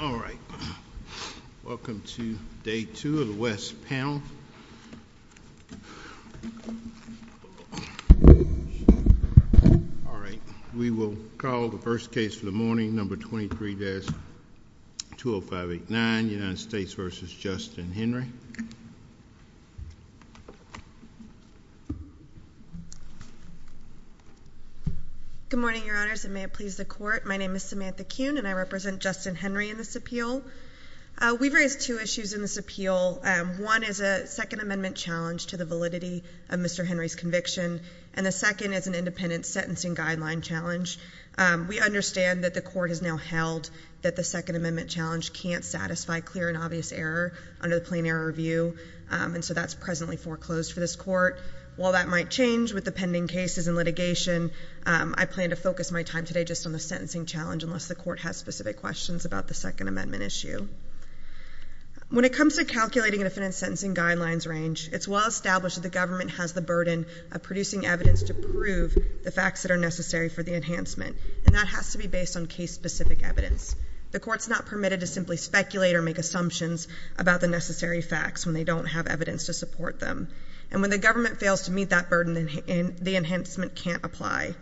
All right, welcome to day two of the West panel. All right, we will call the first case for the morning, number 23-20589, United States v. Justin Henry. Good morning, your honors, and may it please the court, my name is Samantha Robertson-Henry in this appeal. We've raised two issues in this appeal. One is a Second Amendment challenge to the validity of Mr. Henry's conviction, and the second is an independent sentencing guideline challenge. We understand that the court has now held that the Second Amendment challenge can't satisfy clear and obvious error under the Plain Error Review, and so that's presently foreclosed for this court. While that might change with the pending cases and litigation, I plan to focus my time today just on the sentencing challenge unless the court has specific questions about the Second Amendment issue. When it comes to calculating an independent sentencing guidelines range, it's well established that the government has the burden of producing evidence to prove the facts that are necessary for the enhancement, and that has to be based on case-specific evidence. The court's not permitted to simply speculate or make assumptions about the necessary facts when they don't have evidence to support them, and when the government fails to meet that burden, the enhancement can't apply.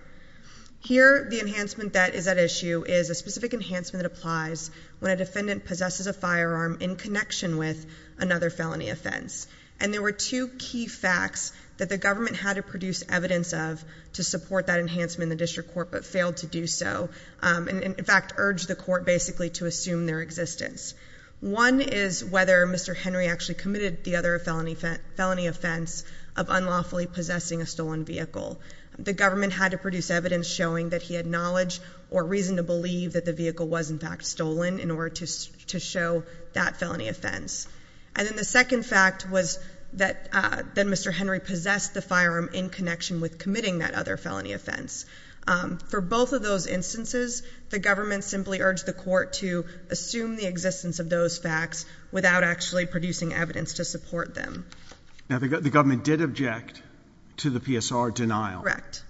Here, the enhancement that is at issue is a specific enhancement that applies when a defendant possesses a firearm in connection with another felony offense, and there were two key facts that the government had to produce evidence of to support that enhancement in the district court but failed to do so, and in fact urged the court basically to assume their existence. One is whether Mr. Henry actually committed the other felony offense of unlawfully possessing a stolen vehicle. The government had to produce evidence showing that he had knowledge or reason to believe that the vehicle was in fact stolen in order to show that felony offense. And then the second fact was that Mr. Henry possessed the firearm in connection with committing that other felony offense. For both of those instances, the government simply urged the court to assume the existence of those facts without actually producing evidence to support them. Now, the government did object to the PSR denial.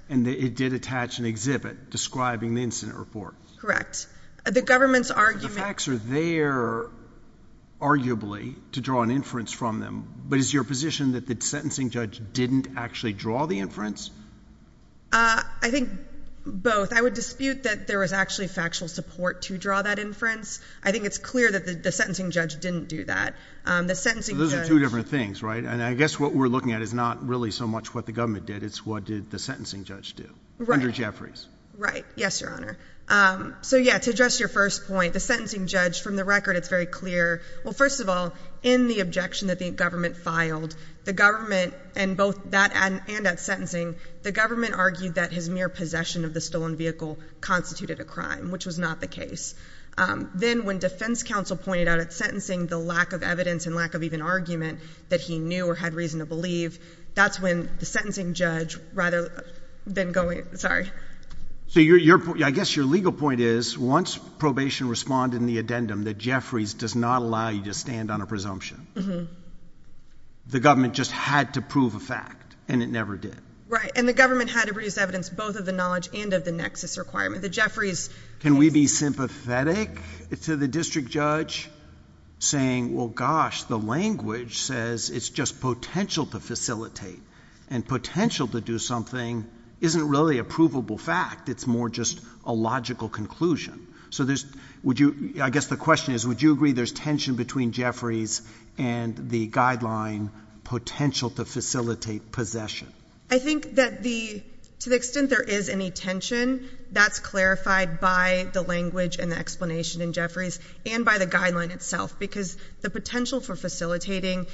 And it did attach an exhibit describing the incident report. Correct. The government's argument... The facts are there, arguably, to draw an inference from them, but is your position that the sentencing judge didn't actually draw the inference? I think both. I would dispute that there was actually factual support to draw that inference. I think it's clear that the sentencing judge didn't do that. The sentencing judge... So those are two different things, right? And I guess what we're looking at is not really so much what the government did, it's what did the sentencing judge do? Right. Andrew Jeffries. Right. Yes, Your Honor. So yeah, to address your first point, the sentencing judge, from the record, it's very clear. Well, first of all, in the objection that the government filed, the government, and both that and at sentencing, the government argued that his mere possession of the stolen vehicle constituted a crime, which was not the case. Then when defense counsel pointed out at sentencing the lack of evidence and lack of even argument that he knew or had reason to believe, that's when the sentencing judge rather than going... So I guess your legal point is, once probation responded in the addendum that Jeffries does not allow you to stand on a presumption, the government just had to prove a fact, and it never did. Right. And the government had to produce evidence both of the knowledge and of the nexus requirement that Jeffries... Can we be sympathetic to the district judge saying, well, gosh, the language says it's just potential to facilitate, and potential to do something isn't really a provable fact. It's more just a logical conclusion. So I guess the question is, would you agree there's tension between Jeffries and the guideline potential to facilitate possession? I think that to the extent there is any tension, that's clarified by the language and the explanation in Jeffries and by the guideline itself, because the potential for facilitating,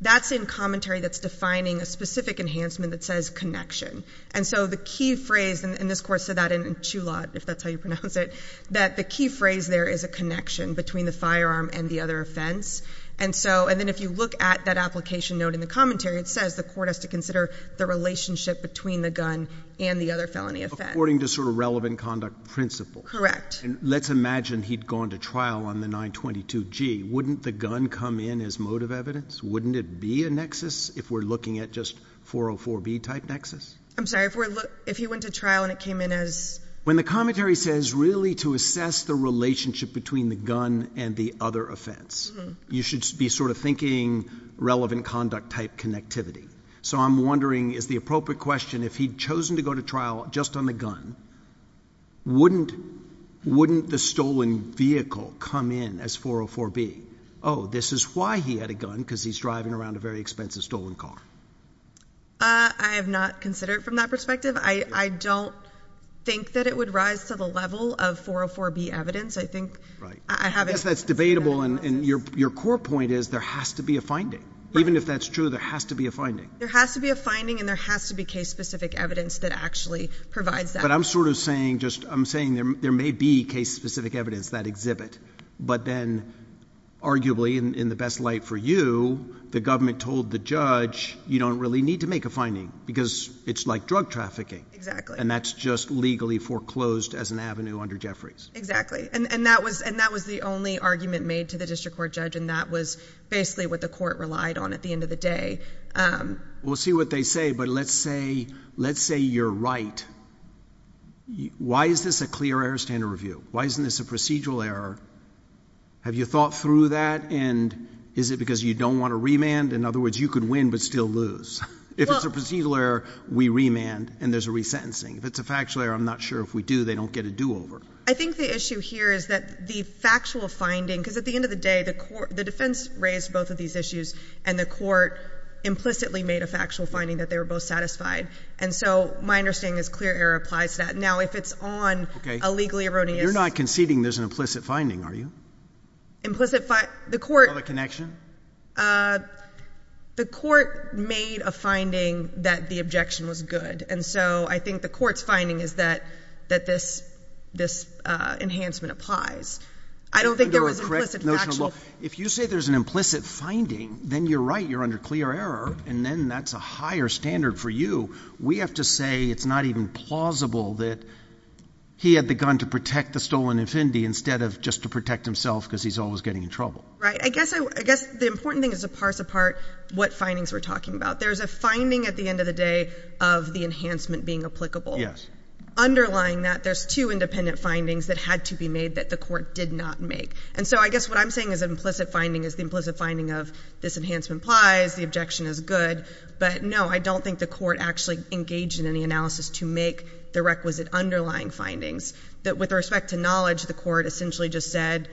that's in commentary that's defining a specific enhancement that says connection. And so the key phrase, and this court said that in Chulot, if that's how you pronounce it, that the key phrase there is a connection between the firearm and the other offense. And then if you look at that application note in the commentary, it says the court has to consider the relationship between the gun and the other felony offense. According to sort of relevant conduct principle. Correct. And let's imagine he'd gone to trial on the 922G. Wouldn't the gun come in as motive evidence? Wouldn't it be a nexus if we're looking at just 404B type nexus? I'm sorry, if he went to trial and it came in as... When the commentary says really to assess the relationship between the gun and the other offense, you should be sort of thinking relevant conduct type connectivity. So I'm wondering, is the appropriate question, if he'd chosen to go to trial just on the gun, wouldn't the stolen vehicle come in as 404B? Oh, this is why he had a gun, because he's driving around a very expensive stolen car. I have not considered it from that perspective. I don't think that it would rise to the level of 404B evidence. I think I haven't... Because that's debatable and your core point is there has to be a finding. Even if that's true, there has to be a finding. There has to be a finding and there has to be case specific evidence that actually provides that. But I'm sort of saying just, I'm saying there may be case specific evidence that exhibit, but then arguably in the best light for you, the government told the judge, you don't really need to make a finding because it's like drug trafficking. Exactly. And that's just legally foreclosed as an avenue under Jeffries. Exactly. And that was the only argument made to the district court judge. And that was basically what the court relied on at the end of the day. We'll see what they say, but let's say, let's say you're right. Why is this a clear error standard review? Why isn't this a procedural error? Have you thought through that? And is it because you don't want to remand? In other words, you could win, but still lose. If it's a procedural error, we remand and there's a resentencing. If it's a factual error, I'm not sure if we do, they don't get a do over. I think the issue here is that the factual finding, because at the end of the day, the court, the defense raised both of these issues and the court implicitly made a factual finding that they were both satisfied. And so my understanding is clear error applies to that. Now, if it's on a legally erroneous. You're not conceding there's an implicit finding, are you? Implicit, the court. Other connection? The court made a finding that the objection was good. And so I think the court's finding is that this enhancement applies. I don't think there was a correct notion of law. If you say there's an implicit finding, then you're right. You're under clear error. And then that's a higher standard for you. We have to say it's not even plausible that he had the gun to protect the stolen infinity instead of just to protect himself because he's always getting in trouble. Right. I guess the important thing is to parse apart what findings we're talking about. There's a finding at the end of the day of the enhancement being applicable. Yes. Underlying that, there's two independent findings that had to be made that the court did not make. And so I guess what I'm saying is an implicit finding is the implicit finding of this enhancement applies, the objection is good. But no, I don't think the court actually engaged in any analysis to make the requisite underlying findings that with respect to knowledge, the court essentially just said,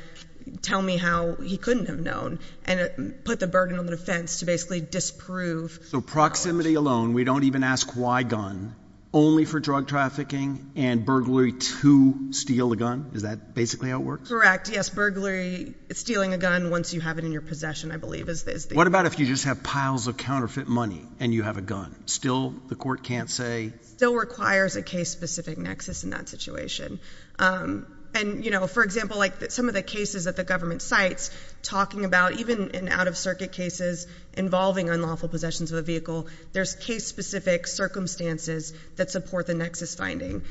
tell me how he couldn't have known and put the burden on the defense to basically disprove. So proximity alone, we don't even ask why gun, only for drug trafficking and burglary to steal a gun? Is that basically how it works? Correct. Yes. Burglary, stealing a gun once you have it in your possession, I believe is the... What about if you just have piles of counterfeit money and you have a gun? Still the court can't say... Still requires a case specific nexus in that situation. And for example, some of the cases at the government sites talking about even in out of circuit cases involving unlawful possessions of a vehicle, there's case specific circumstances that support the nexus finding.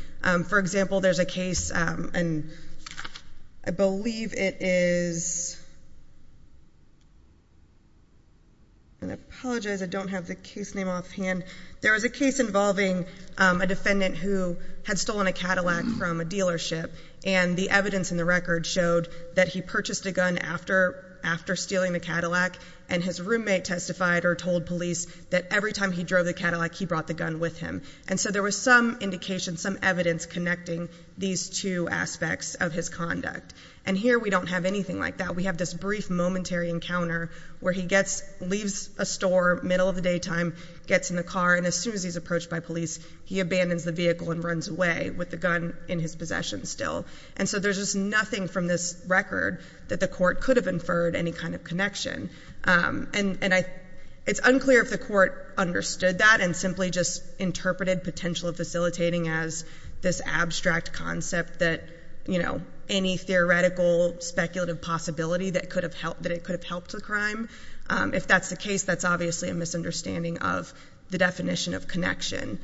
For example, there's a case and I believe it is... I apologize, I don't have the case name off hand. There was a case involving a defendant who had stolen a Cadillac from a dealership and the evidence in the record showed that he purchased a gun after stealing the Cadillac and his roommate testified or told police that every time he drove the Cadillac, he brought the gun with him. And so there was some indication, some evidence connecting these two aspects of his conduct. And here we don't have anything like that. We have this brief momentary encounter where he leaves a store middle of the daytime, gets in the car, and as soon as he's approached by police, he abandons the vehicle and runs away with the gun in his possession still. And so there's just nothing from this record that the court could have inferred any kind of connection. And it's unclear if the court understood that and simply just interpreted potential facilitating as this abstract concept that any theoretical speculative possibility that it could have helped the crime. If that's the case, that's obviously a misunderstanding of the definition of connection.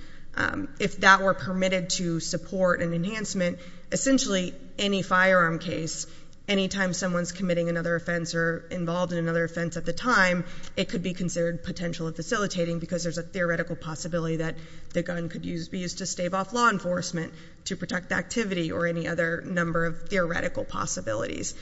If that were permitted to support an enhancement, essentially any firearm case, anytime someone's committing another offense or involved in another offense at the time, it could be considered potential of facilitating because there's a theoretical possibility that the gun could be used to stave off law enforcement to protect activity or any other number of theoretical possibilities.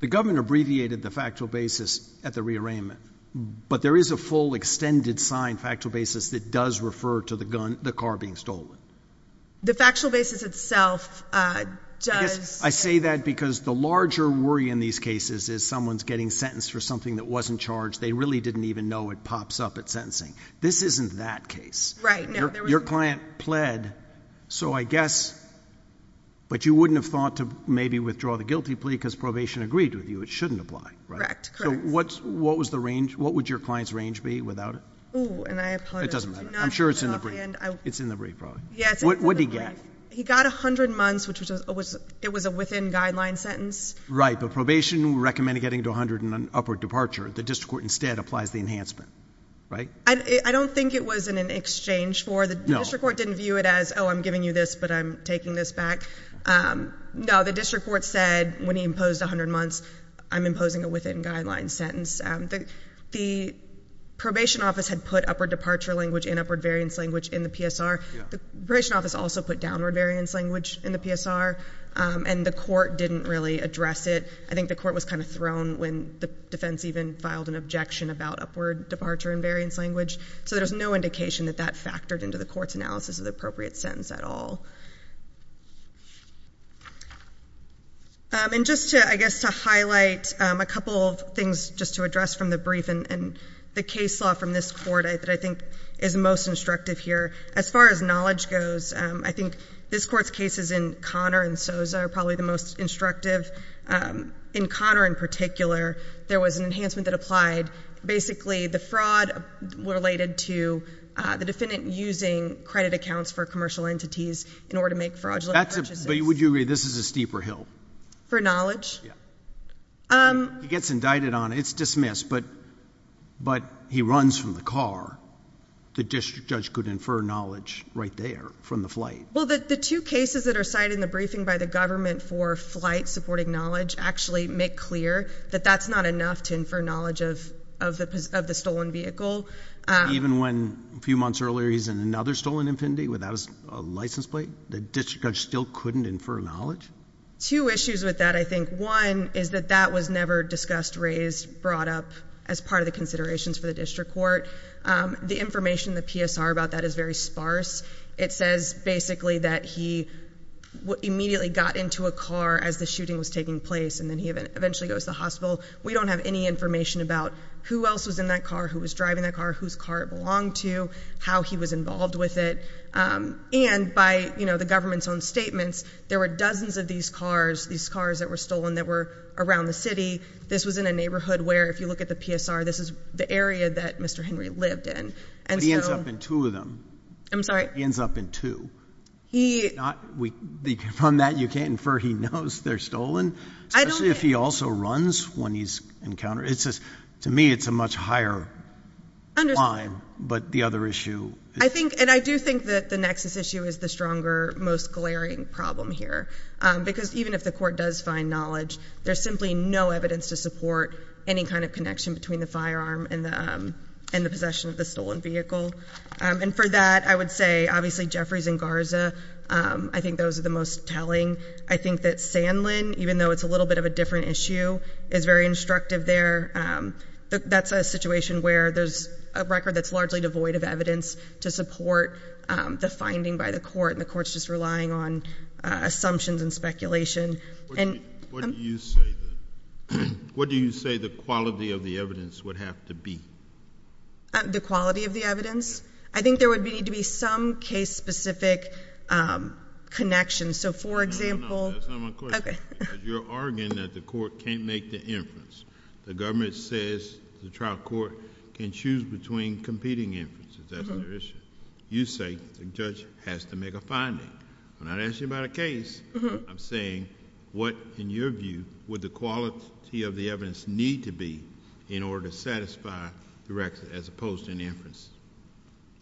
The government abbreviated the factual basis at the rearrangement, but there is a full extended sign, factual basis that does refer to the gun, the car being stolen. The factual basis itself does. I say that because the larger worry in these cases is someone's getting sentenced for something that wasn't charged. They really didn't even know it pops up at sentencing. This isn't that case, right? Your client pled. So I guess, but you wouldn't have thought to maybe withdraw the guilty plea because probation agreed with you. It shouldn't apply, right? So what's, what was the range? What would your client's range be without it? It doesn't matter. I'm sure it's in the brief. It's in the brief probably. What did he get? He got a hundred months, which was, it was a within guideline sentence. Right, but probation recommended getting to a hundred and an upward departure. The district court instead applies the enhancement, right? I don't think it was in an exchange for the district court didn't view it as, oh, I'm giving you this, but I'm taking this back. No, the district court said when he imposed a hundred months, I'm imposing a within guideline sentence. The probation office had put upward departure language and upward variance language in the PSR. The probation office also put downward variance language in the PSR and the court didn't really address it. I think the court was kind of thrown when the defense even filed an objection about upward departure and variance language. So there's no indication that that factored into the court's analysis of the appropriate sentence at all. And just to, I guess, to highlight a couple of things just to address from the brief and the case law from this court that I think is most instructive here. As far as knowledge goes, I think this court's cases in Connor and Sosa are probably the most instructive. In Connor in particular, there was an enhancement that applied. Basically the fraud related to the defendant using credit accounts for commercial entities in order to make fraudulent purchases. But would you agree this is a steeper hill? For knowledge? Yeah. He gets indicted on it. It's dismissed, but he runs from the car. The district judge could infer knowledge right there from the flight. Well, the two cases that are cited in the briefing by the government for flight supporting knowledge actually make clear that that's not enough to infer knowledge of the stolen vehicle. Even when a few months earlier, he's in another stolen Infiniti without a license plate, the district judge still couldn't infer knowledge? Two issues with that. I think one is that that was never discussed, raised, brought up as part of the considerations for the district court. The information, the PSR about that is very sparse. It says basically that he immediately got into a car as the shooting was taking place, and then he eventually goes to the hospital. We don't have any information about who else was in that car, who was driving that car, whose car it belonged to, how he was involved with it. And by, you know, the government's own statements, there were dozens of these cars, these cars that were stolen that were around the city. This was in a neighborhood where, if you look at the PSR, this is the area that Mr. Henry lived in. But he ends up in two of them. I'm sorry? He ends up in two. From that, you can't infer he knows they're stolen, especially if he also runs when he's encountered. To me, it's a much higher climb, but the other issue... I think, and I do think that the nexus issue is the stronger, most glaring problem here. Because even if the court does find knowledge, there's simply no evidence to support any kind of connection between the firearm and the possession of the stolen vehicle. And for that, I would say, obviously, Jeffries and Garza, I think those are the most telling. I think that Sanlin, even though it's a little bit of a different issue, is very instructive there. That's a situation where there's a record that's largely devoid of evidence to support the finding by the court, and the court's just relying on assumptions and speculation. What do you say the quality of the evidence would have to be? The quality of the evidence? I think there would need to be some case-specific connection. So for example... No, no, no. That's not my question. Okay. Because you're arguing that the court can't make the inference. The government says the trial court can choose between competing inferences. That's their issue. You say the judge has to make a finding. I'm not asking you about a case. I'm saying, what, in your view, would the quality of the evidence need to be in order to satisfy the record, as opposed to an inference?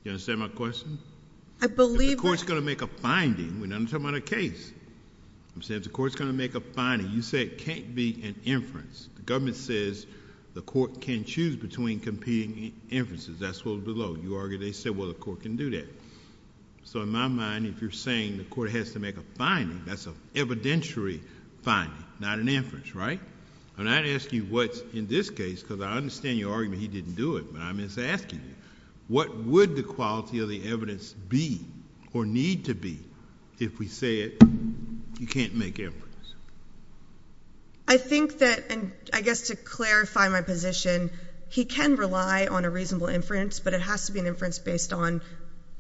Do you understand my question? I believe that... If the court's going to make a finding, we're not even talking about a case. I'm saying if the court's going to make a finding, you say it can't be an inference. The government says the court can choose between competing inferences. That's what was below. You argue they said, well, the court can do that. So in my mind, if you're saying the court has to make a finding, that's an evidentiary finding, not an inference, right? And I'd ask you what's in this case, because I understand your argument he didn't do it, but I'm just asking you, what would the quality of the evidence be or need to be if we said you can't make inference? I think that, and I guess to clarify my position, he can rely on a reasonable inference, but it has to be an inference based on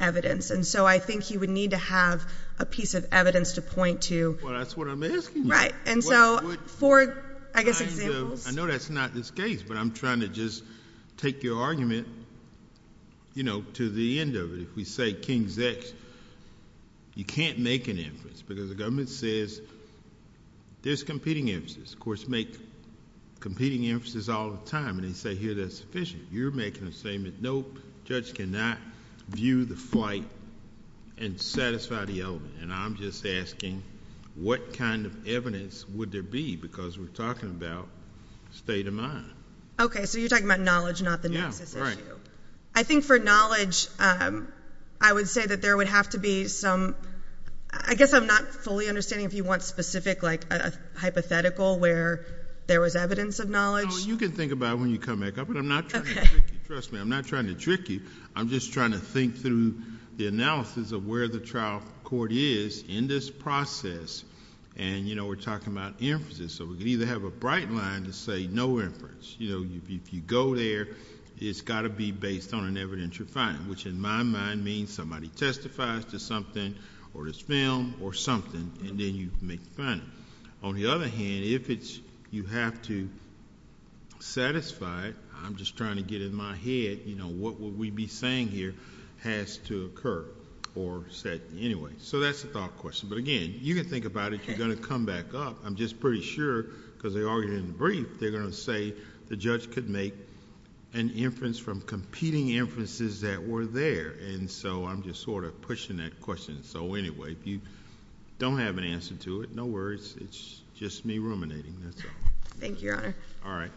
evidence. And so I think he would need to have a piece of evidence to point to. Well, that's what I'm asking you. Right. And so for, I guess, examples... I know that's not this case, but I'm trying to just take your argument, you know, to the end of it. If we say King's X, you can't make an inference because the government says there's competing inferences. Courts make competing inferences all the time, and they say, here, that's sufficient. You're making a statement, nope, judge cannot view the flight and satisfy the element. And I'm just asking, what kind of evidence would there be? Because we're talking about state of mind. Okay. So you're talking about knowledge, not the nexus issue. I think for knowledge, I would say that there would have to be some, I guess I'm not fully understanding if you want specific, like a hypothetical where there was evidence of knowledge. You can think about it when you come back up, but I'm not trying to trick you. Trust me, I'm not trying to trick you. I'm just trying to think through the analysis of where the trial court is in this process. And, you know, we're talking about inferences. So we could either have a bright line to say no inference. You know, if you go there, it's got to be based on an evidentiary finding, which in my mind means somebody testifies to something or this film or something, and then you make the finding. On the other hand, if it's, you have to satisfy, I'm just trying to get in my head, you know, what would we be saying here has to occur or said anyway. So that's the thought question. But again, you can think about it, you're going to come back up. I'm just pretty sure because they argued in the brief, they're going to say the judge could make an inference from competing inferences that were there. And so I'm just sort of pushing that question. So anyway, if you don't have an answer to it, no worries. It's just me ruminating. That's all. Thank you, Your Honor. All right.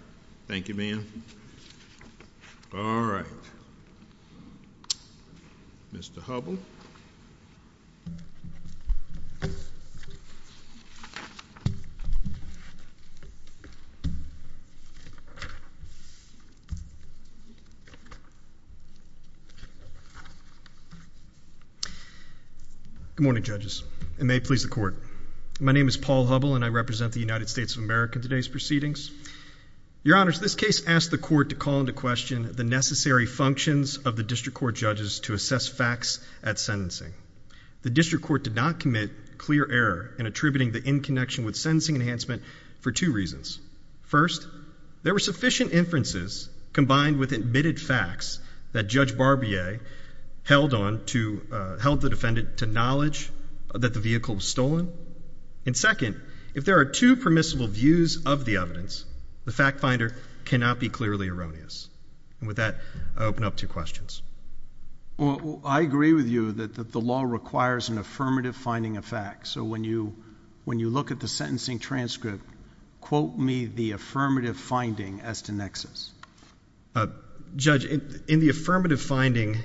Thank you, ma'am. All right. Mr. Hubbell. Good morning, judges, and may it please the court. My name is Paul Hubbell, and I represent the United States of America in today's proceedings. Your Honors, this case asked the court to call into question the necessary functions of the district court judges to assess facts at sentencing. The district court did not commit clear error in attributing the in-connection with sentencing enhancement for two reasons. First, there were sufficient inferences combined with admitted facts that Judge Barbier held on to, held the defendant to knowledge that the vehicle was stolen. And second, if there are two permissible views of the evidence, the fact finder cannot be clearly erroneous. And with that, I open up to questions. I agree with you that the law requires an affirmative finding of facts. So when you look at the sentencing transcript, quote me the affirmative finding as to nexus. Judge, in the affirmative finding,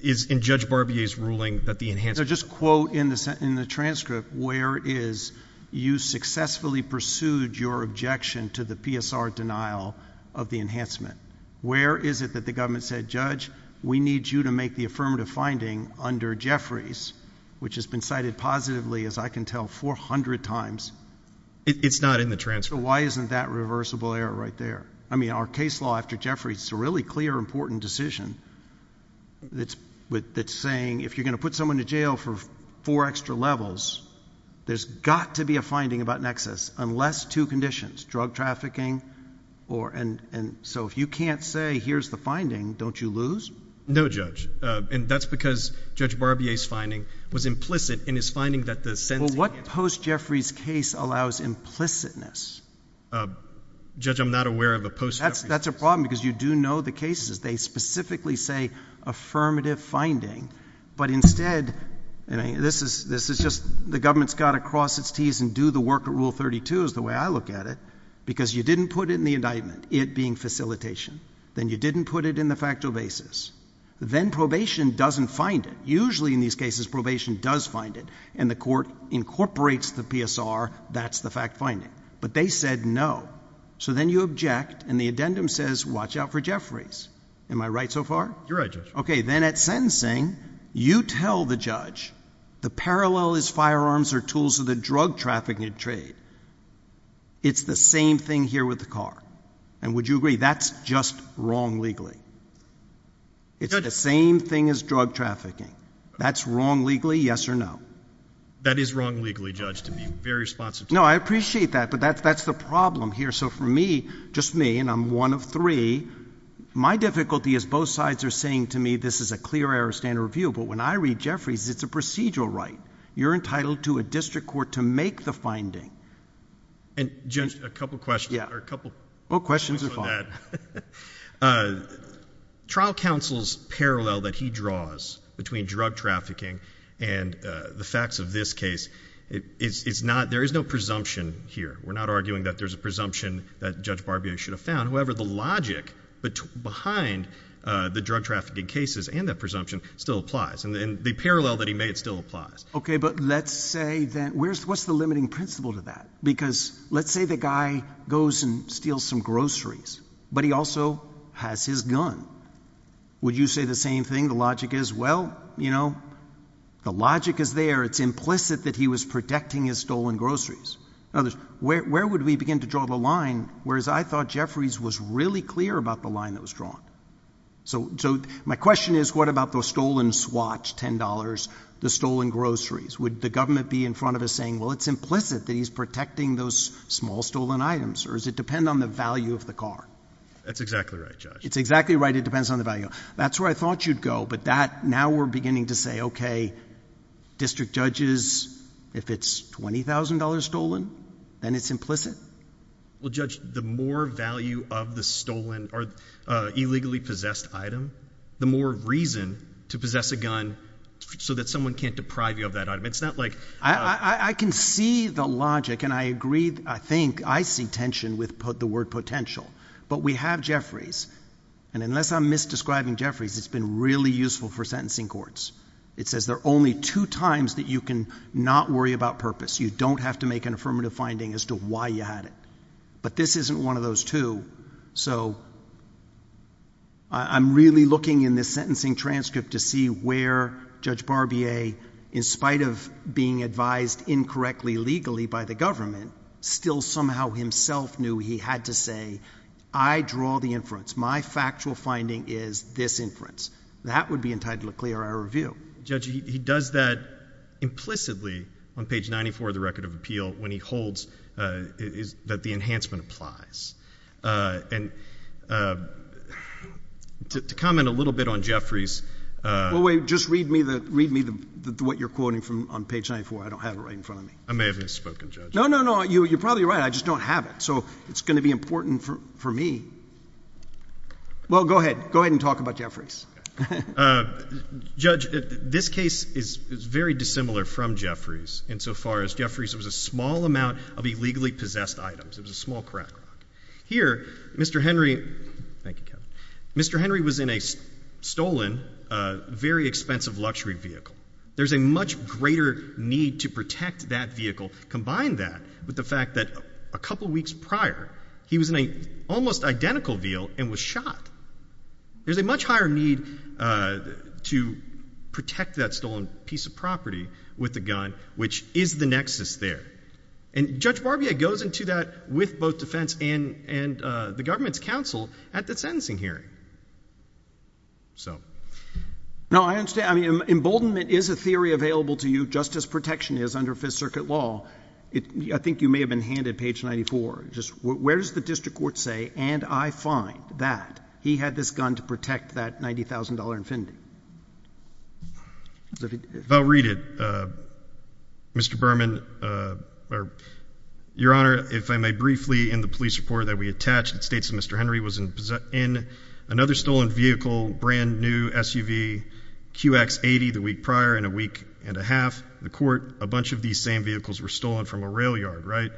is in Judge Barbier's ruling that the enhancement No, just quote in the transcript where is you successfully pursued your objection to the PSR denial of the enhancement. Where is it that the government said, Judge, we need you to make the affirmative finding under Jeffries, which has been cited positively, as I can tell, 400 times? It's not in the transcript. So why isn't that reversible error right there? I mean, our case law after Jeffries is a really clear important decision that's saying if you're going to put someone to jail for four extra levels, there's got to be a finding about nexus, unless two conditions, drug trafficking or and so if you can't say here's the finding, don't you lose? No, Judge. And that's because Judge Barbier's finding was implicit in his finding that the What post Jeffries case allows implicitness? Judge, I'm not aware of a post. That's a problem because you do know the cases. They specifically say affirmative finding. But instead, and this is this is just the government's got to cross its T's and do the work of Rule 32 is the way I look at it, because you didn't put it in the indictment, it being facilitation, then you didn't put it in the factual basis, then probation doesn't find it. Usually in these cases, probation does find it. And the court incorporates the PSR. That's the fact finding. But they said no. So then you object. And the addendum says Watch out for Jeffries. Am I right so far? You're right. OK, then at sentencing, you tell the judge the parallel is firearms or tools of the drug trafficking trade. It's the same thing here with the car. And would you agree that's just wrong legally? It's not the same thing as drug trafficking. That's wrong legally. Yes or no. That is wrong legally judged to be very responsive. No, I appreciate that. But that's that's the problem here. So for me, just me and I'm one of three. My difficulty is both sides are saying to me this is a clear error standard review. But when I read Jeffries, it's a procedural right. You're entitled to a district court to make the finding. And just a couple of questions. Yeah, a couple of questions that trial counsel's parallel that he draws between drug trafficking and the facts of this case, it is not there is no presumption here. We're not arguing that there's a presumption that Judge Barbier should have found. However, the logic behind the drug trafficking cases and that presumption still applies. And the parallel that he made still applies. OK, but let's say that where's what's the limiting principle to that? Because let's say the guy goes and steals some groceries, but he also has his gun. Would you say the same thing? The logic is, well, you know, the logic is there. It's implicit that he was protecting his stolen groceries. Where would we begin to draw the line? Whereas I thought Jeffries was really clear about the line that was drawn. So so my question is, what about the stolen swatch? Ten dollars, the stolen groceries. Would the government be in front of us saying, well, it's implicit that he's protecting those small stolen items, or does it depend on the value of the car? That's exactly right. It's exactly right. It depends on the value. That's where I thought you'd go. But that now we're beginning to say, OK, district judges, if it's twenty thousand dollars stolen and it's implicit. Well, judge, the more value of the stolen or illegally possessed item, the more reason to possess a gun so that someone can't deprive you of that item. It's not like I can see the logic and I agree. I think I see tension with the word potential. But we have Jeffries. And unless I'm misdescribing Jeffries, it's been really useful for sentencing courts. It says there are only two times that you can not worry about purpose. You don't have to make an affirmative finding as to why you had it. But this isn't one of those two. So I'm really looking in this sentencing transcript to see where Judge Barbier, in spite of being advised incorrectly, legally by the government, still somehow himself knew he had to say, I draw the inference. My factual finding is this inference that would be entitled to clear our review. Judge, he does that implicitly on page ninety four of the record of appeal when he holds that the enhancement applies. And to comment a little bit on Jeffries. Well, wait. Just read me what you're quoting on page ninety four. I don't have it right in front of me. I may have misspoken, Judge. No, no, no. You're probably right. I just don't have it. So it's going to be important for me. Well, go ahead. Go ahead and talk about Jeffries. Judge, this case is very dissimilar from Jeffries insofar as Jeffries was a small amount of property, legally possessed items. It was a small cracker. Here, Mr. Henry. Thank you, Kevin. Mr. Henry was in a stolen, very expensive luxury vehicle. There's a much greater need to protect that vehicle. Combine that with the fact that a couple of weeks prior, he was in a almost identical veal and was shot. There's a much higher need to protect that vehicle. And Judge Barbier goes into that with both defense and the government's counsel at the sentencing hearing. No, I understand. I mean, emboldenment is a theory available to you just as protection is under Fifth Circuit law. I think you may have been handed page ninety four. Where does the district court say, and I find that he had this gun to protect that ninety thousand dollar infinity? If I'll read it, Mr. Berman. Your Honor, if I may briefly, in the police report that we attached, it states that Mr. Henry was in another stolen vehicle, brand new SUV, QX80 the week prior and a week and a half. The court, a bunch of these same vehicles were stolen from a rail yard, right?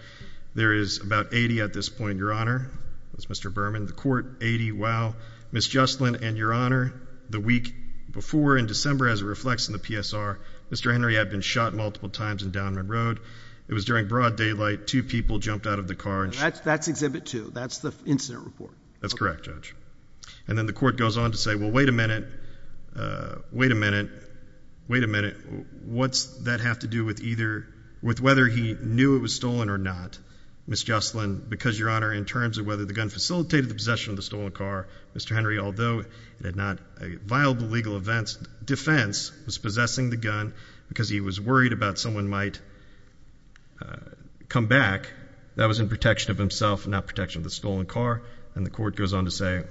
There is about eighty at this point, Your Honor. That's Mr. Henry. Before in December, as it reflects in the PSR, Mr. Henry had been shot multiple times in Downman Road. It was during broad daylight. Two people jumped out of the car. And that's that's exhibit two. That's the incident report. That's correct, Judge. And then the court goes on to say, well, wait a minute. Wait a minute. Wait a minute. What's that have to do with either with whether he knew it was stolen or not, Miss Jocelyn? Because, Your Honor, in terms of whether the gun facilitated the possession of the stolen car, Mr. Henry, although it had not a viable legal defense, was possessing the gun because he was worried about someone might come back that was in protection of himself, not protection of the stolen car. And the court goes on to say,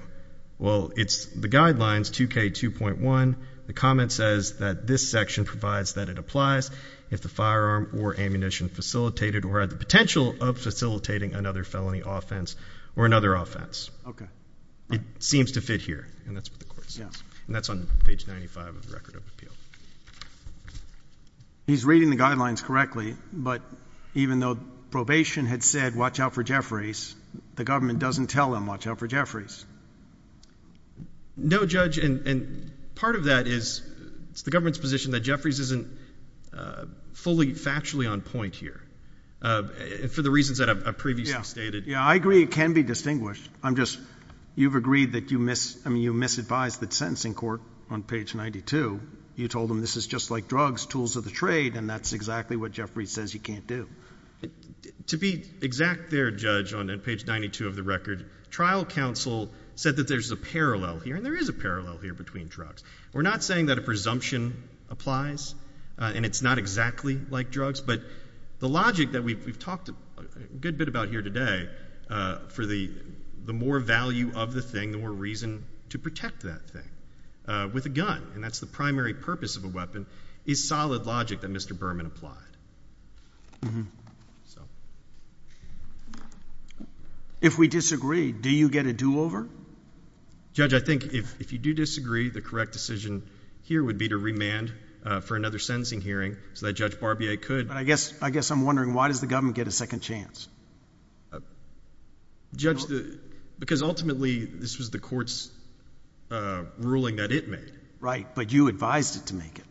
well, it's the guidelines 2K2.1. The comment says that this section provides that it applies if the firearm or ammunition facilitated or had the potential of facilitating another offense. OK. It seems to fit here. And that's what the court says. And that's on page 95 of the record of appeal. He's reading the guidelines correctly. But even though probation had said, watch out for Jeffries, the government doesn't tell him, watch out for Jeffries. No, Judge. And part of that is it's the government's position that Jeffries isn't fully factually on point here, for the reasons that I've previously stated. Yeah, I agree it can be distinguished. I'm just, you've agreed that you miss, I mean, you misadvised the sentencing court on page 92. You told them this is just like drugs, tools of the trade, and that's exactly what Jeffries says you can't do. To be exact there, Judge, on page 92 of the record, trial counsel said that there's a parallel here, and there is a parallel here between We're not saying that a presumption applies, and it's not exactly like drugs, but the logic that we've talked a good bit about here today for the more value of the thing, the more reason to protect that thing with a gun, and that's the primary purpose of a weapon, is solid logic that Mr. Berman applied. If we disagree, do you get a do-over? Judge, I think if you do disagree, the correct decision here would be to remand for another sentencing hearing so that Judge Barbier could. I guess I'm wondering, why does the government get a second chance? Judge, because ultimately this was the court's ruling that it made. Right, but you advised it to make it.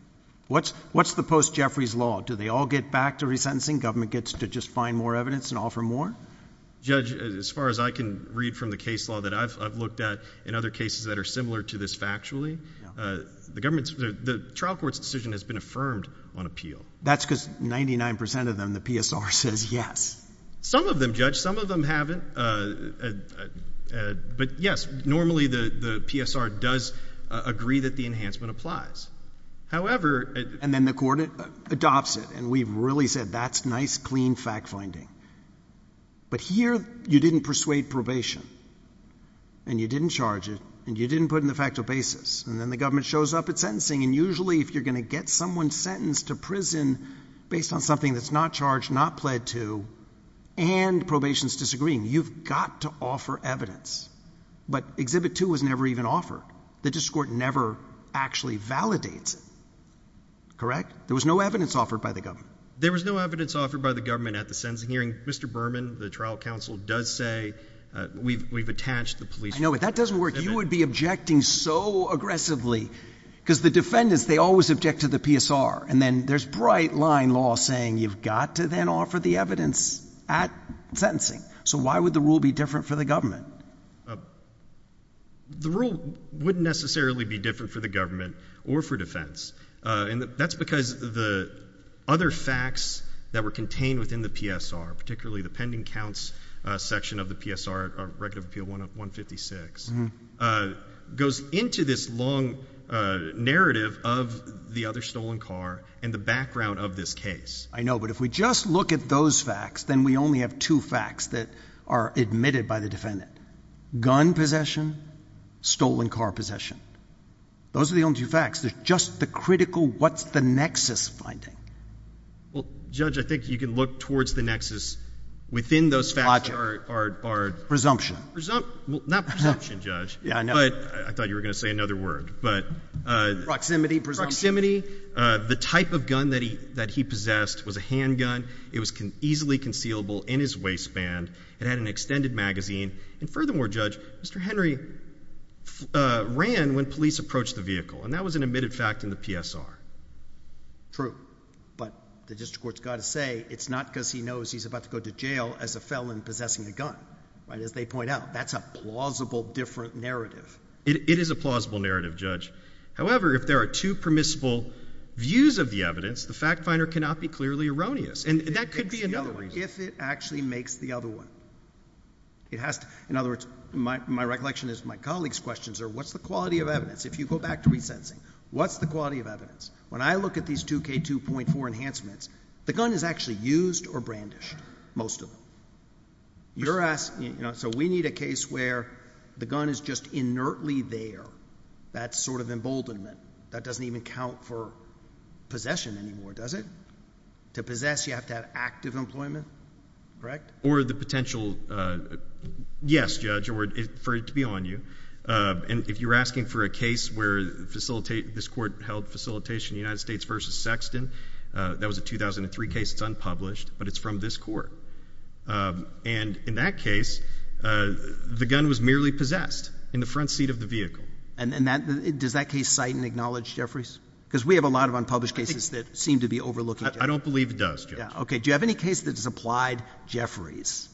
What's the post-Jeffries law? Do they all get back to resentencing? Government gets to just find more evidence and offer more? Judge, as far as I can read from the case law that I've looked at in other cases that are similar to this factually, the trial court's decision has been affirmed on appeal. That's because 99% of them, the PSR says yes. Some of them, Judge, some of them haven't, but yes, normally the PSR does agree that the enhancement applies. However... And then the court adopts it, and we've really said that's nice, clean fact-finding. But here, you didn't persuade probation, and you didn't charge it, and you didn't put in the factual basis, and then the government shows up at sentencing, and usually if you're going to get someone sentenced to prison based on something that's not charged, not pled to, and probation's disagreeing, you've got to offer evidence. But Exhibit 2 was never even offered. The district court never actually validates it. Correct? There was no evidence offered by the government. There was no evidence offered by the government at the sentencing hearing. Mr. Berman, the trial counsel, does say we've attached the police... I know, but that doesn't work. You would be objecting so aggressively, because the defendants, they always object to the PSR, and then there's bright-line law saying you've got to then offer the evidence at sentencing. So why would the rule be different for the government? The rule wouldn't necessarily be different for the government or for defense, and that's because the other facts that were contained within the PSR, particularly the pending counts section of the PSR, Regulative Appeal 156, goes into this long narrative of the other stolen car and the background of this case. I know, but if we just look at those facts, then we only have two facts that are admitted by the defendant, gun possession, stolen car possession. Those are the only two facts. There's just the critical what's the nexus finding. Well, Judge, I think you can look towards the nexus within those facts are... Presumption. Well, not presumption, Judge. I thought you were going to say another word. Proximity, presumption. Proximity, the type of gun that he possessed was a handgun. It was easily concealable in his waistband. It had an extended magazine. And furthermore, Judge, Mr. Henry ran when police approached the vehicle, and that was an admitted fact in the PSR. True, but the district court's got to say it's not because he knows he's about to go to jail as a felon possessing a gun, right? As they point out, that's a plausible different narrative. It is a plausible narrative, Judge. However, if there are two permissible views of the evidence, the fact finder cannot be clearly erroneous, and that could be another reason. If it actually makes the other one. In other words, my recollection is my colleagues' questions are what's the quality of evidence? If you go back to resentencing, what's the quality of evidence? When I look at these 2K2.4 enhancements, the gun is actually used or brandished, most of them. So we need a case where the gun is just inertly there, that sort of emboldenment, that doesn't even count for possession anymore, does it? To possess, you have to have active employment, correct? Or the potential, yes, Judge, or for it to be on you. And if you're asking for a case where this court held facilitation United States versus Sexton, that was a 2003 case, it's unpublished, but it's from this court. And in that case, the gun was merely there. Because we have a lot of unpublished cases that seem to be overlooking that. I don't believe it does, Judge. Okay. Do you have any case that has applied Jefferies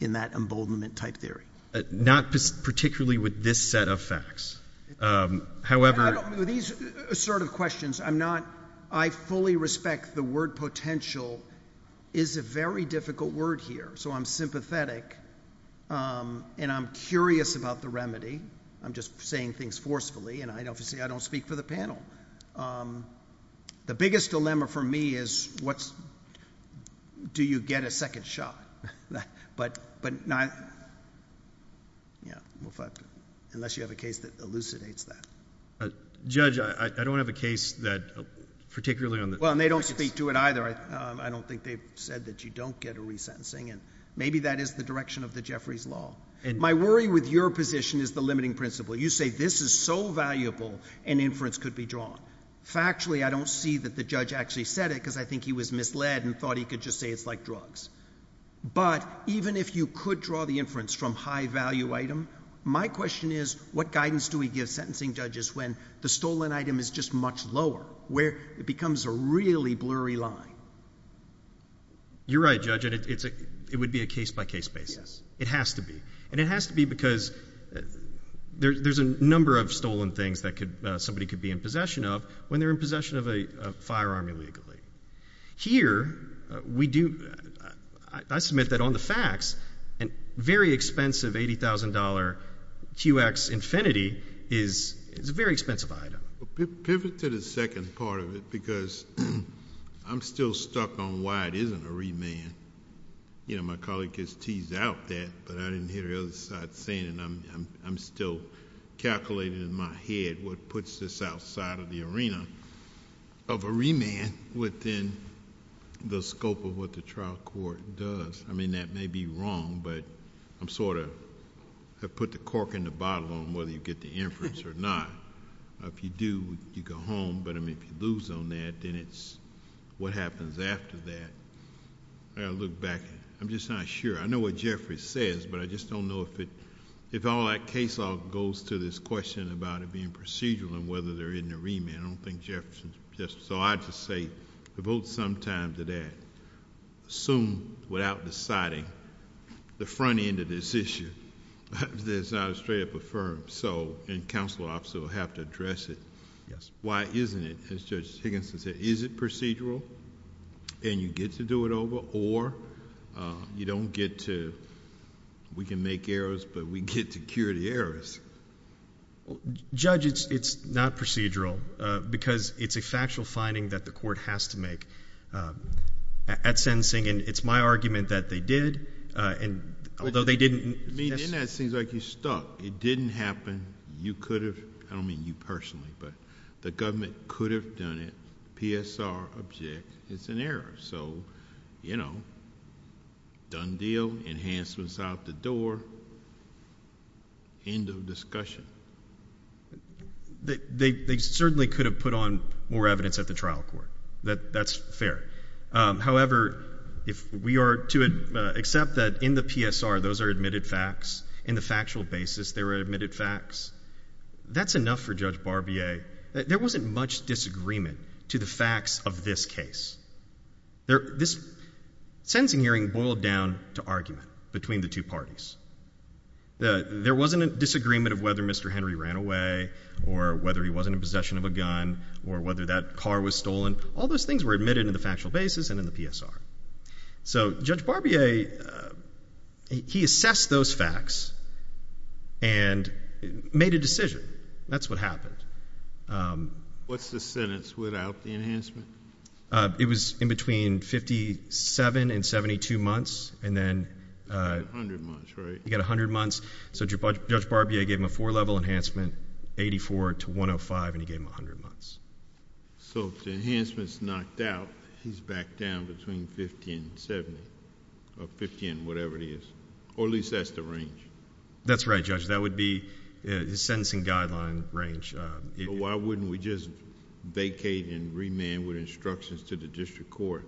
in that emboldenment type theory? Not particularly with this set of facts. However... These sort of questions, I'm not, I fully respect the word potential is a very difficult word here. So I'm sympathetic, and I'm curious about the remedy. I'm just saying things forcefully, and obviously I don't speak for the panel. The biggest dilemma for me is, what's, do you get a second shot? But not, yeah, unless you have a case that elucidates that. Judge, I don't have a case that particularly on the... Well, and they don't speak to it either. I don't think they've said that you don't get a resentencing, and maybe that is the direction of the Jefferies law. My worry with your position is the limiting principle. You say this is so valuable an inference could be drawn. Factually, I don't see that the judge actually said it, because I think he was misled and thought he could just say it's like drugs. But even if you could draw the inference from high value item, my question is, what guidance do we give sentencing judges when the stolen item is just much lower, where it becomes a really blurry line? You're right, Judge. It would be a case by case basis. Yes. It has to be, and it has to be because there's a number of stolen things that somebody could be in possession of when they're in possession of a firearm illegally. Here, I submit that on the facts, a very expensive $80,000 QX Infinity is a very expensive item. Pivot to the second part of it, because I'm still stuck on why it isn't a remand. My colleague has teased out that, but I didn't hear the other side saying it. I'm still calculating in my head what puts this outside of the arena of a remand within the scope of what the trial court does. That may be wrong, but I put the cork in the bottle on whether you get the inference or not. If you do, you go home, but if you lose on that, then it's what happens after that. I got to look back. I'm just not sure. I know what Jeffrey says, but I just don't know if all that case law goes to this question about it being procedural and whether they're in a remand. I don't think Jeffrey's... I just say devote some time to that. Assume, without deciding, the front end of this issue, that it's not a straight up affirm. Counselor officer will have to address it. Yes. Why isn't it, as Judge Higginson said, is it procedural, and you get to do it over, or you don't get to... we can make errors, but we get to cure the errors? Judge, it's not procedural because it's a factual finding that the court has to make. At sentencing, it's my argument that they did, although they didn't... In that, it seems like you're stuck. It didn't happen. You could have... I don't mean you personally, but the government could have done it. PSR, object. It's an error. Done deal. Enhancements out the door. End of discussion. They certainly could have put on more evidence at the trial court. That's fair. However, we are to accept that in the PSR, those are admitted facts. In the factual basis, they were admitted facts. That's enough for Judge Barbier. There wasn't much disagreement to the facts of this case. This sentencing hearing boiled down to argument between the two parties. There wasn't a disagreement of whether Mr. Henry ran away, or whether he wasn't in possession of a gun, or whether that car was stolen. All those things were admitted in the factual basis and in the PSR. Judge Barbier, he assessed those facts and made a decision. That's what happened. What's the sentence without the enhancement? It was in between 57 and 72 months, and then... 100 months, right? You get 100 months. Judge Barbier gave him a four-level enhancement, 84 to 105, and he gave him 100 months. If the enhancement's knocked out, he's back down between 50 and 70, or 50 and whatever it is, or at least that's the range. That's right, Judge. That would be his sentencing guideline range. Why wouldn't we just vacate and remand with instructions to the district court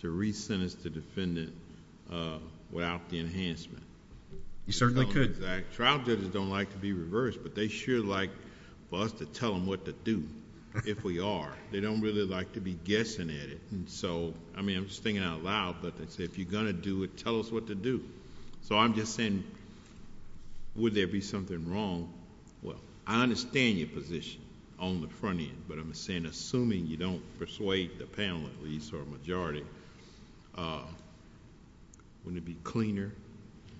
to resentence the defendant without the enhancement? You certainly could. Trial judges don't like to be reversed, but they sure like for us to tell them what to do, if we are. They don't really like to be guessing at it. I mean, I'm just thinking out loud, but they say, if you're going to do it, tell us what to do. I'm just saying, would there be something wrong? Well, I understand your position on the front end, but I'm saying, assuming you don't persuade the panel, at least, or majority, wouldn't it be cleaner?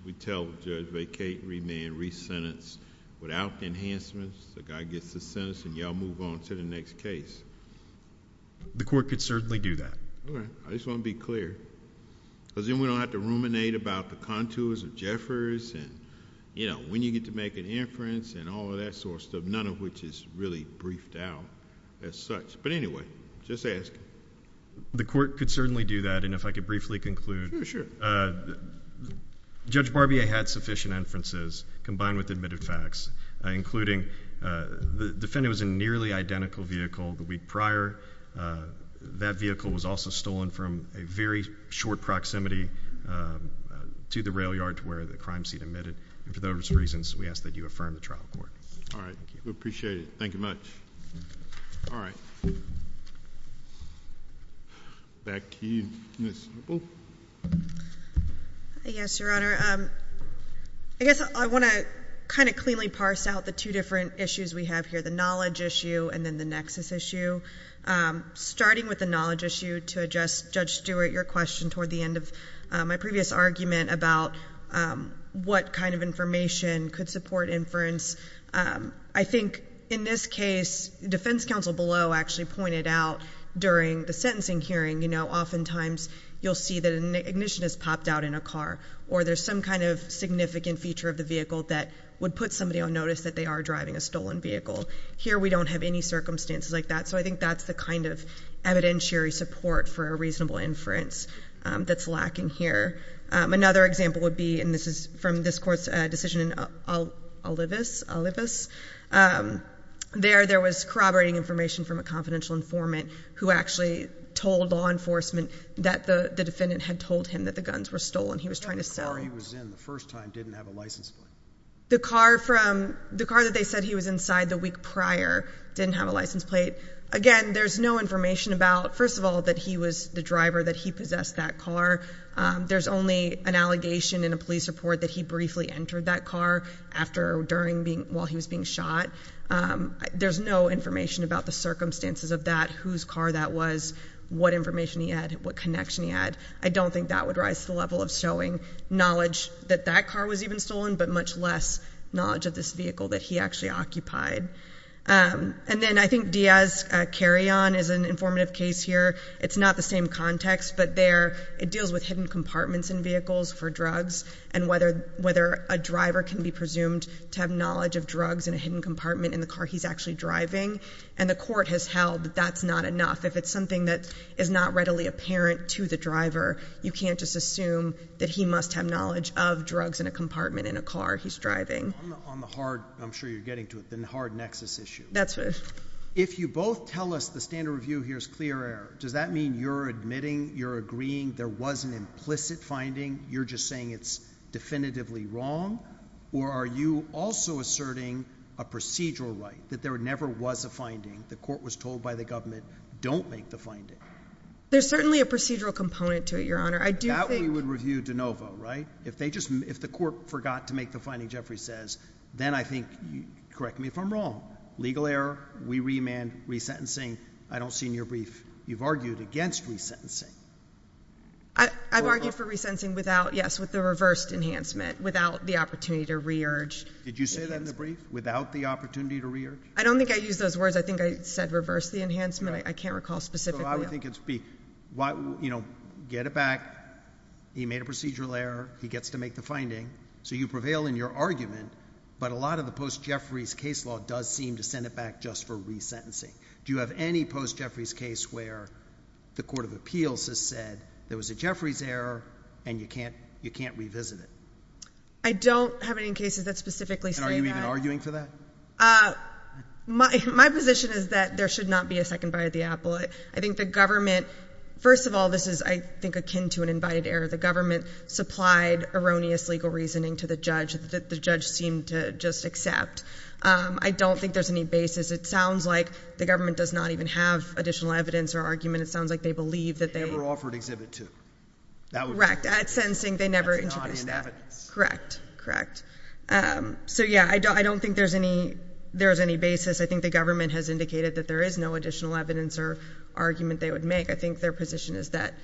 We'd tell the judge, vacate, remand, resentence without enhancements. The guy gets the sentence, and you all move on to the next case. The court could certainly do that. All right. I just want to be clear. Then we don't have to ruminate about the contours of Jeffers, and when you get to make an inference, and all of that sort of stuff, none of which is really briefed out as such, but anyway, just ask. The court could certainly do that, and if I could briefly conclude... Judge Barbier had sufficient inferences, combined with admitted facts, including the defendant was in a nearly identical vehicle the week prior. That vehicle was also stolen from a very short proximity to the rail yard where the crime scene admitted, and for those reasons, we ask that you affirm the trial court. All right. We appreciate it. Thank you much. All right. Back to you, Ms. Nicol. Yes, Your Honor. I guess I want to kind of cleanly parse out the two different issues we have here, the knowledge issue and then the nexus issue. Starting with the knowledge issue, to address Judge Stewart, your question, toward the end of my previous argument about what kind of information could support inference, I think in this case, defense counsel below actually pointed out during the sentencing hearing, oftentimes you'll see that an ignition has popped out in a car, or there's some kind of significant feature of the vehicle that would put somebody on notice that they are driving a stolen vehicle. Here, we don't have any circumstances like that, so I think that's the kind of evidentiary support for a reasonable inference that's lacking here. Another example would be, and this is from this court's decision in Olivas. There, there was corroborating information from a confidential informant who actually told law enforcement that the defendant had told him that the guns were stolen. He was trying to sell them. The car he was in the first time didn't have a license plate. The car that they said he was inside the week prior didn't have a license plate. Again, there's no information about, first of all, that he was the driver, that he possessed that car. There's only an allegation in a police report that he briefly entered that car while he was being shot. There's no information about the circumstances of that, whose car that was, what information he had, what connection he had. I don't think that would rise to the level of showing knowledge that that car was even stolen, but much less knowledge of this vehicle that he actually occupied. And then, I think Diaz-Carrion is an informative case here. It's not the same context, but there, it deals with hidden compartments in vehicles for drugs and whether a driver can be presumed to have knowledge of drugs in a hidden compartment in the car he's actually driving. And the court has held that that's not enough. If it's something that is not readily apparent to the driver, you can't just assume that he must have knowledge of drugs in a compartment in a car he's driving. On the hard, I'm sure you're getting to it, the hard nexus issue. That's right. If you both tell us the standard review here is clear error, does that mean you're admitting, you're agreeing there was an implicit finding, you're just saying it's definitively wrong, or are you also asserting a procedural right, that there never was a finding, the court was told by the government, don't make the finding? There's certainly a procedural component to it, Your Honor. That we would review de novo, right? If the court forgot to make the finding, Jeffrey says, then I think, correct me if I'm wrong, legal error, we remand, resentencing, I don't see in your brief. You've argued against resentencing. I've argued for resentencing without, yes, with the reversed enhancement, without the opportunity to re-urge. Did you say that in the brief, without the opportunity to re-urge? I don't think I used those words. I think I said reverse the enhancement. I can't recall specifically. So I would think it would be, you know, get it back, he made a procedural error, he gets to make the finding, so you prevail in your argument, but a lot of the post-Jeffrey's case law does seem to send it back just for resentencing. Do you have any post-Jeffrey's case where the court of appeals has said there was a Jeffrey's error and you can't revisit it? I don't have any cases that specifically say that. And are you even arguing for that? My position is that there should not be a second via the appellate. I think the government, first of all, this is, I think, akin to an invited error. The government supplied erroneous legal reasoning to the judge, that the judge seemed to just accept. I don't think there's any basis. It sounds like the government does not even have additional evidence or argument. It sounds like they believe that they... They never offered Exhibit 2. Correct. At sentencing, they never introduced that. That's not in evidence. Correct. Correct. So, yeah, I don't think there's any basis. I think the government has indicated that there is no additional evidence or argument they would make. I think their position is that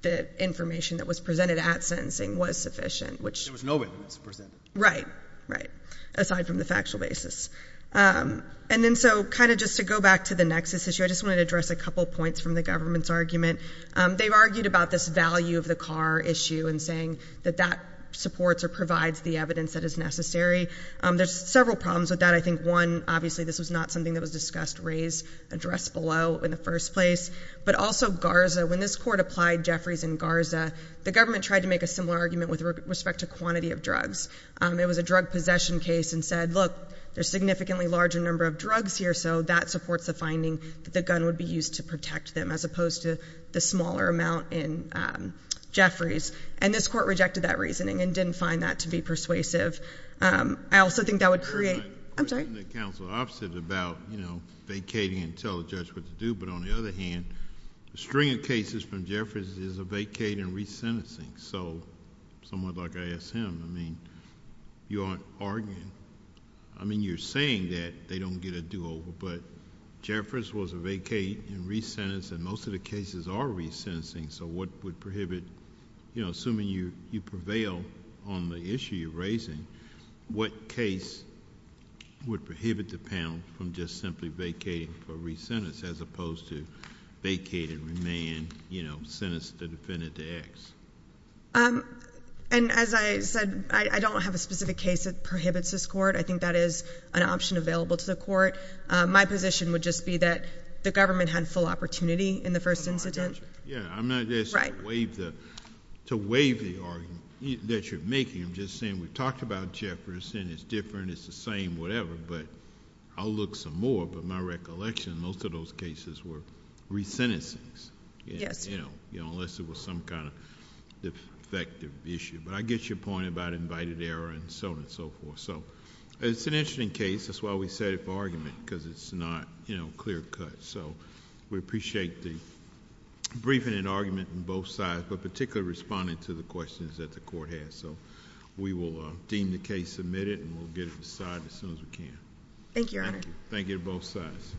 the information that was presented at sentencing was sufficient, which... There was no evidence presented. Right. Right. Aside from the factual basis. And then, so, kind of just to go back to the nexus issue, I just wanted to address a couple points from the government's argument. They've argued about this value of the car issue and saying that that supports or provides the evidence that is necessary. There's several problems with that. I think, one, obviously, this was not something that was discussed, raised, addressed below in the first place. But also, Garza, when this court applied Jeffries and Garza, the government tried to make a similar argument with respect to quantity of drugs. It was a drug possession case and said, look, there's a significantly larger number of drugs here, so that supports the finding that the gun would be used to protect them as opposed to the smaller amount in Jeffries. And this court rejected that reasoning and didn't find that to be persuasive. I also think that would create... I'm sorry. The counsel opposite about, you know, vacating and tell the judge what to do. But on the other hand, the string of cases from Jeffries is a vacating and resentencing. So, somewhat like I asked him, I mean, you aren't arguing. I mean, you're saying that they don't get a do-over, but Jeffries was a vacating and resentencing. Most of the cases are resentencing, so what would prohibit... you know, assuming you prevail on the issue you're raising, what case would prohibit the panel from just simply vacating for resentencing as opposed to vacate and remand, you know, sentence the defendant to X? And as I said, I don't have a specific case that prohibits this court. I think that is an option available to the court. My position would just be that the government had full opportunity in the first incident. Yeah, I'm not asking you to waive the argument that you're making. I'm just saying we've talked about Jeffries and it's different, it's the same, whatever, but I'll look some more. But my recollection, most of those cases were resentencings. Yes. You know, unless it was some kind of defective issue. But I get your point about invited error and so on and so forth. So, it's an interesting case. That's why we set it for argument because it's not, you know, clear cut. So, we appreciate the briefing and argument on both sides, but particularly responding to the questions that the court has. So, we will deem the case submitted and we'll get it decided as soon as we can. Thank you, Your Honor. Thank you. Thank you to both sides.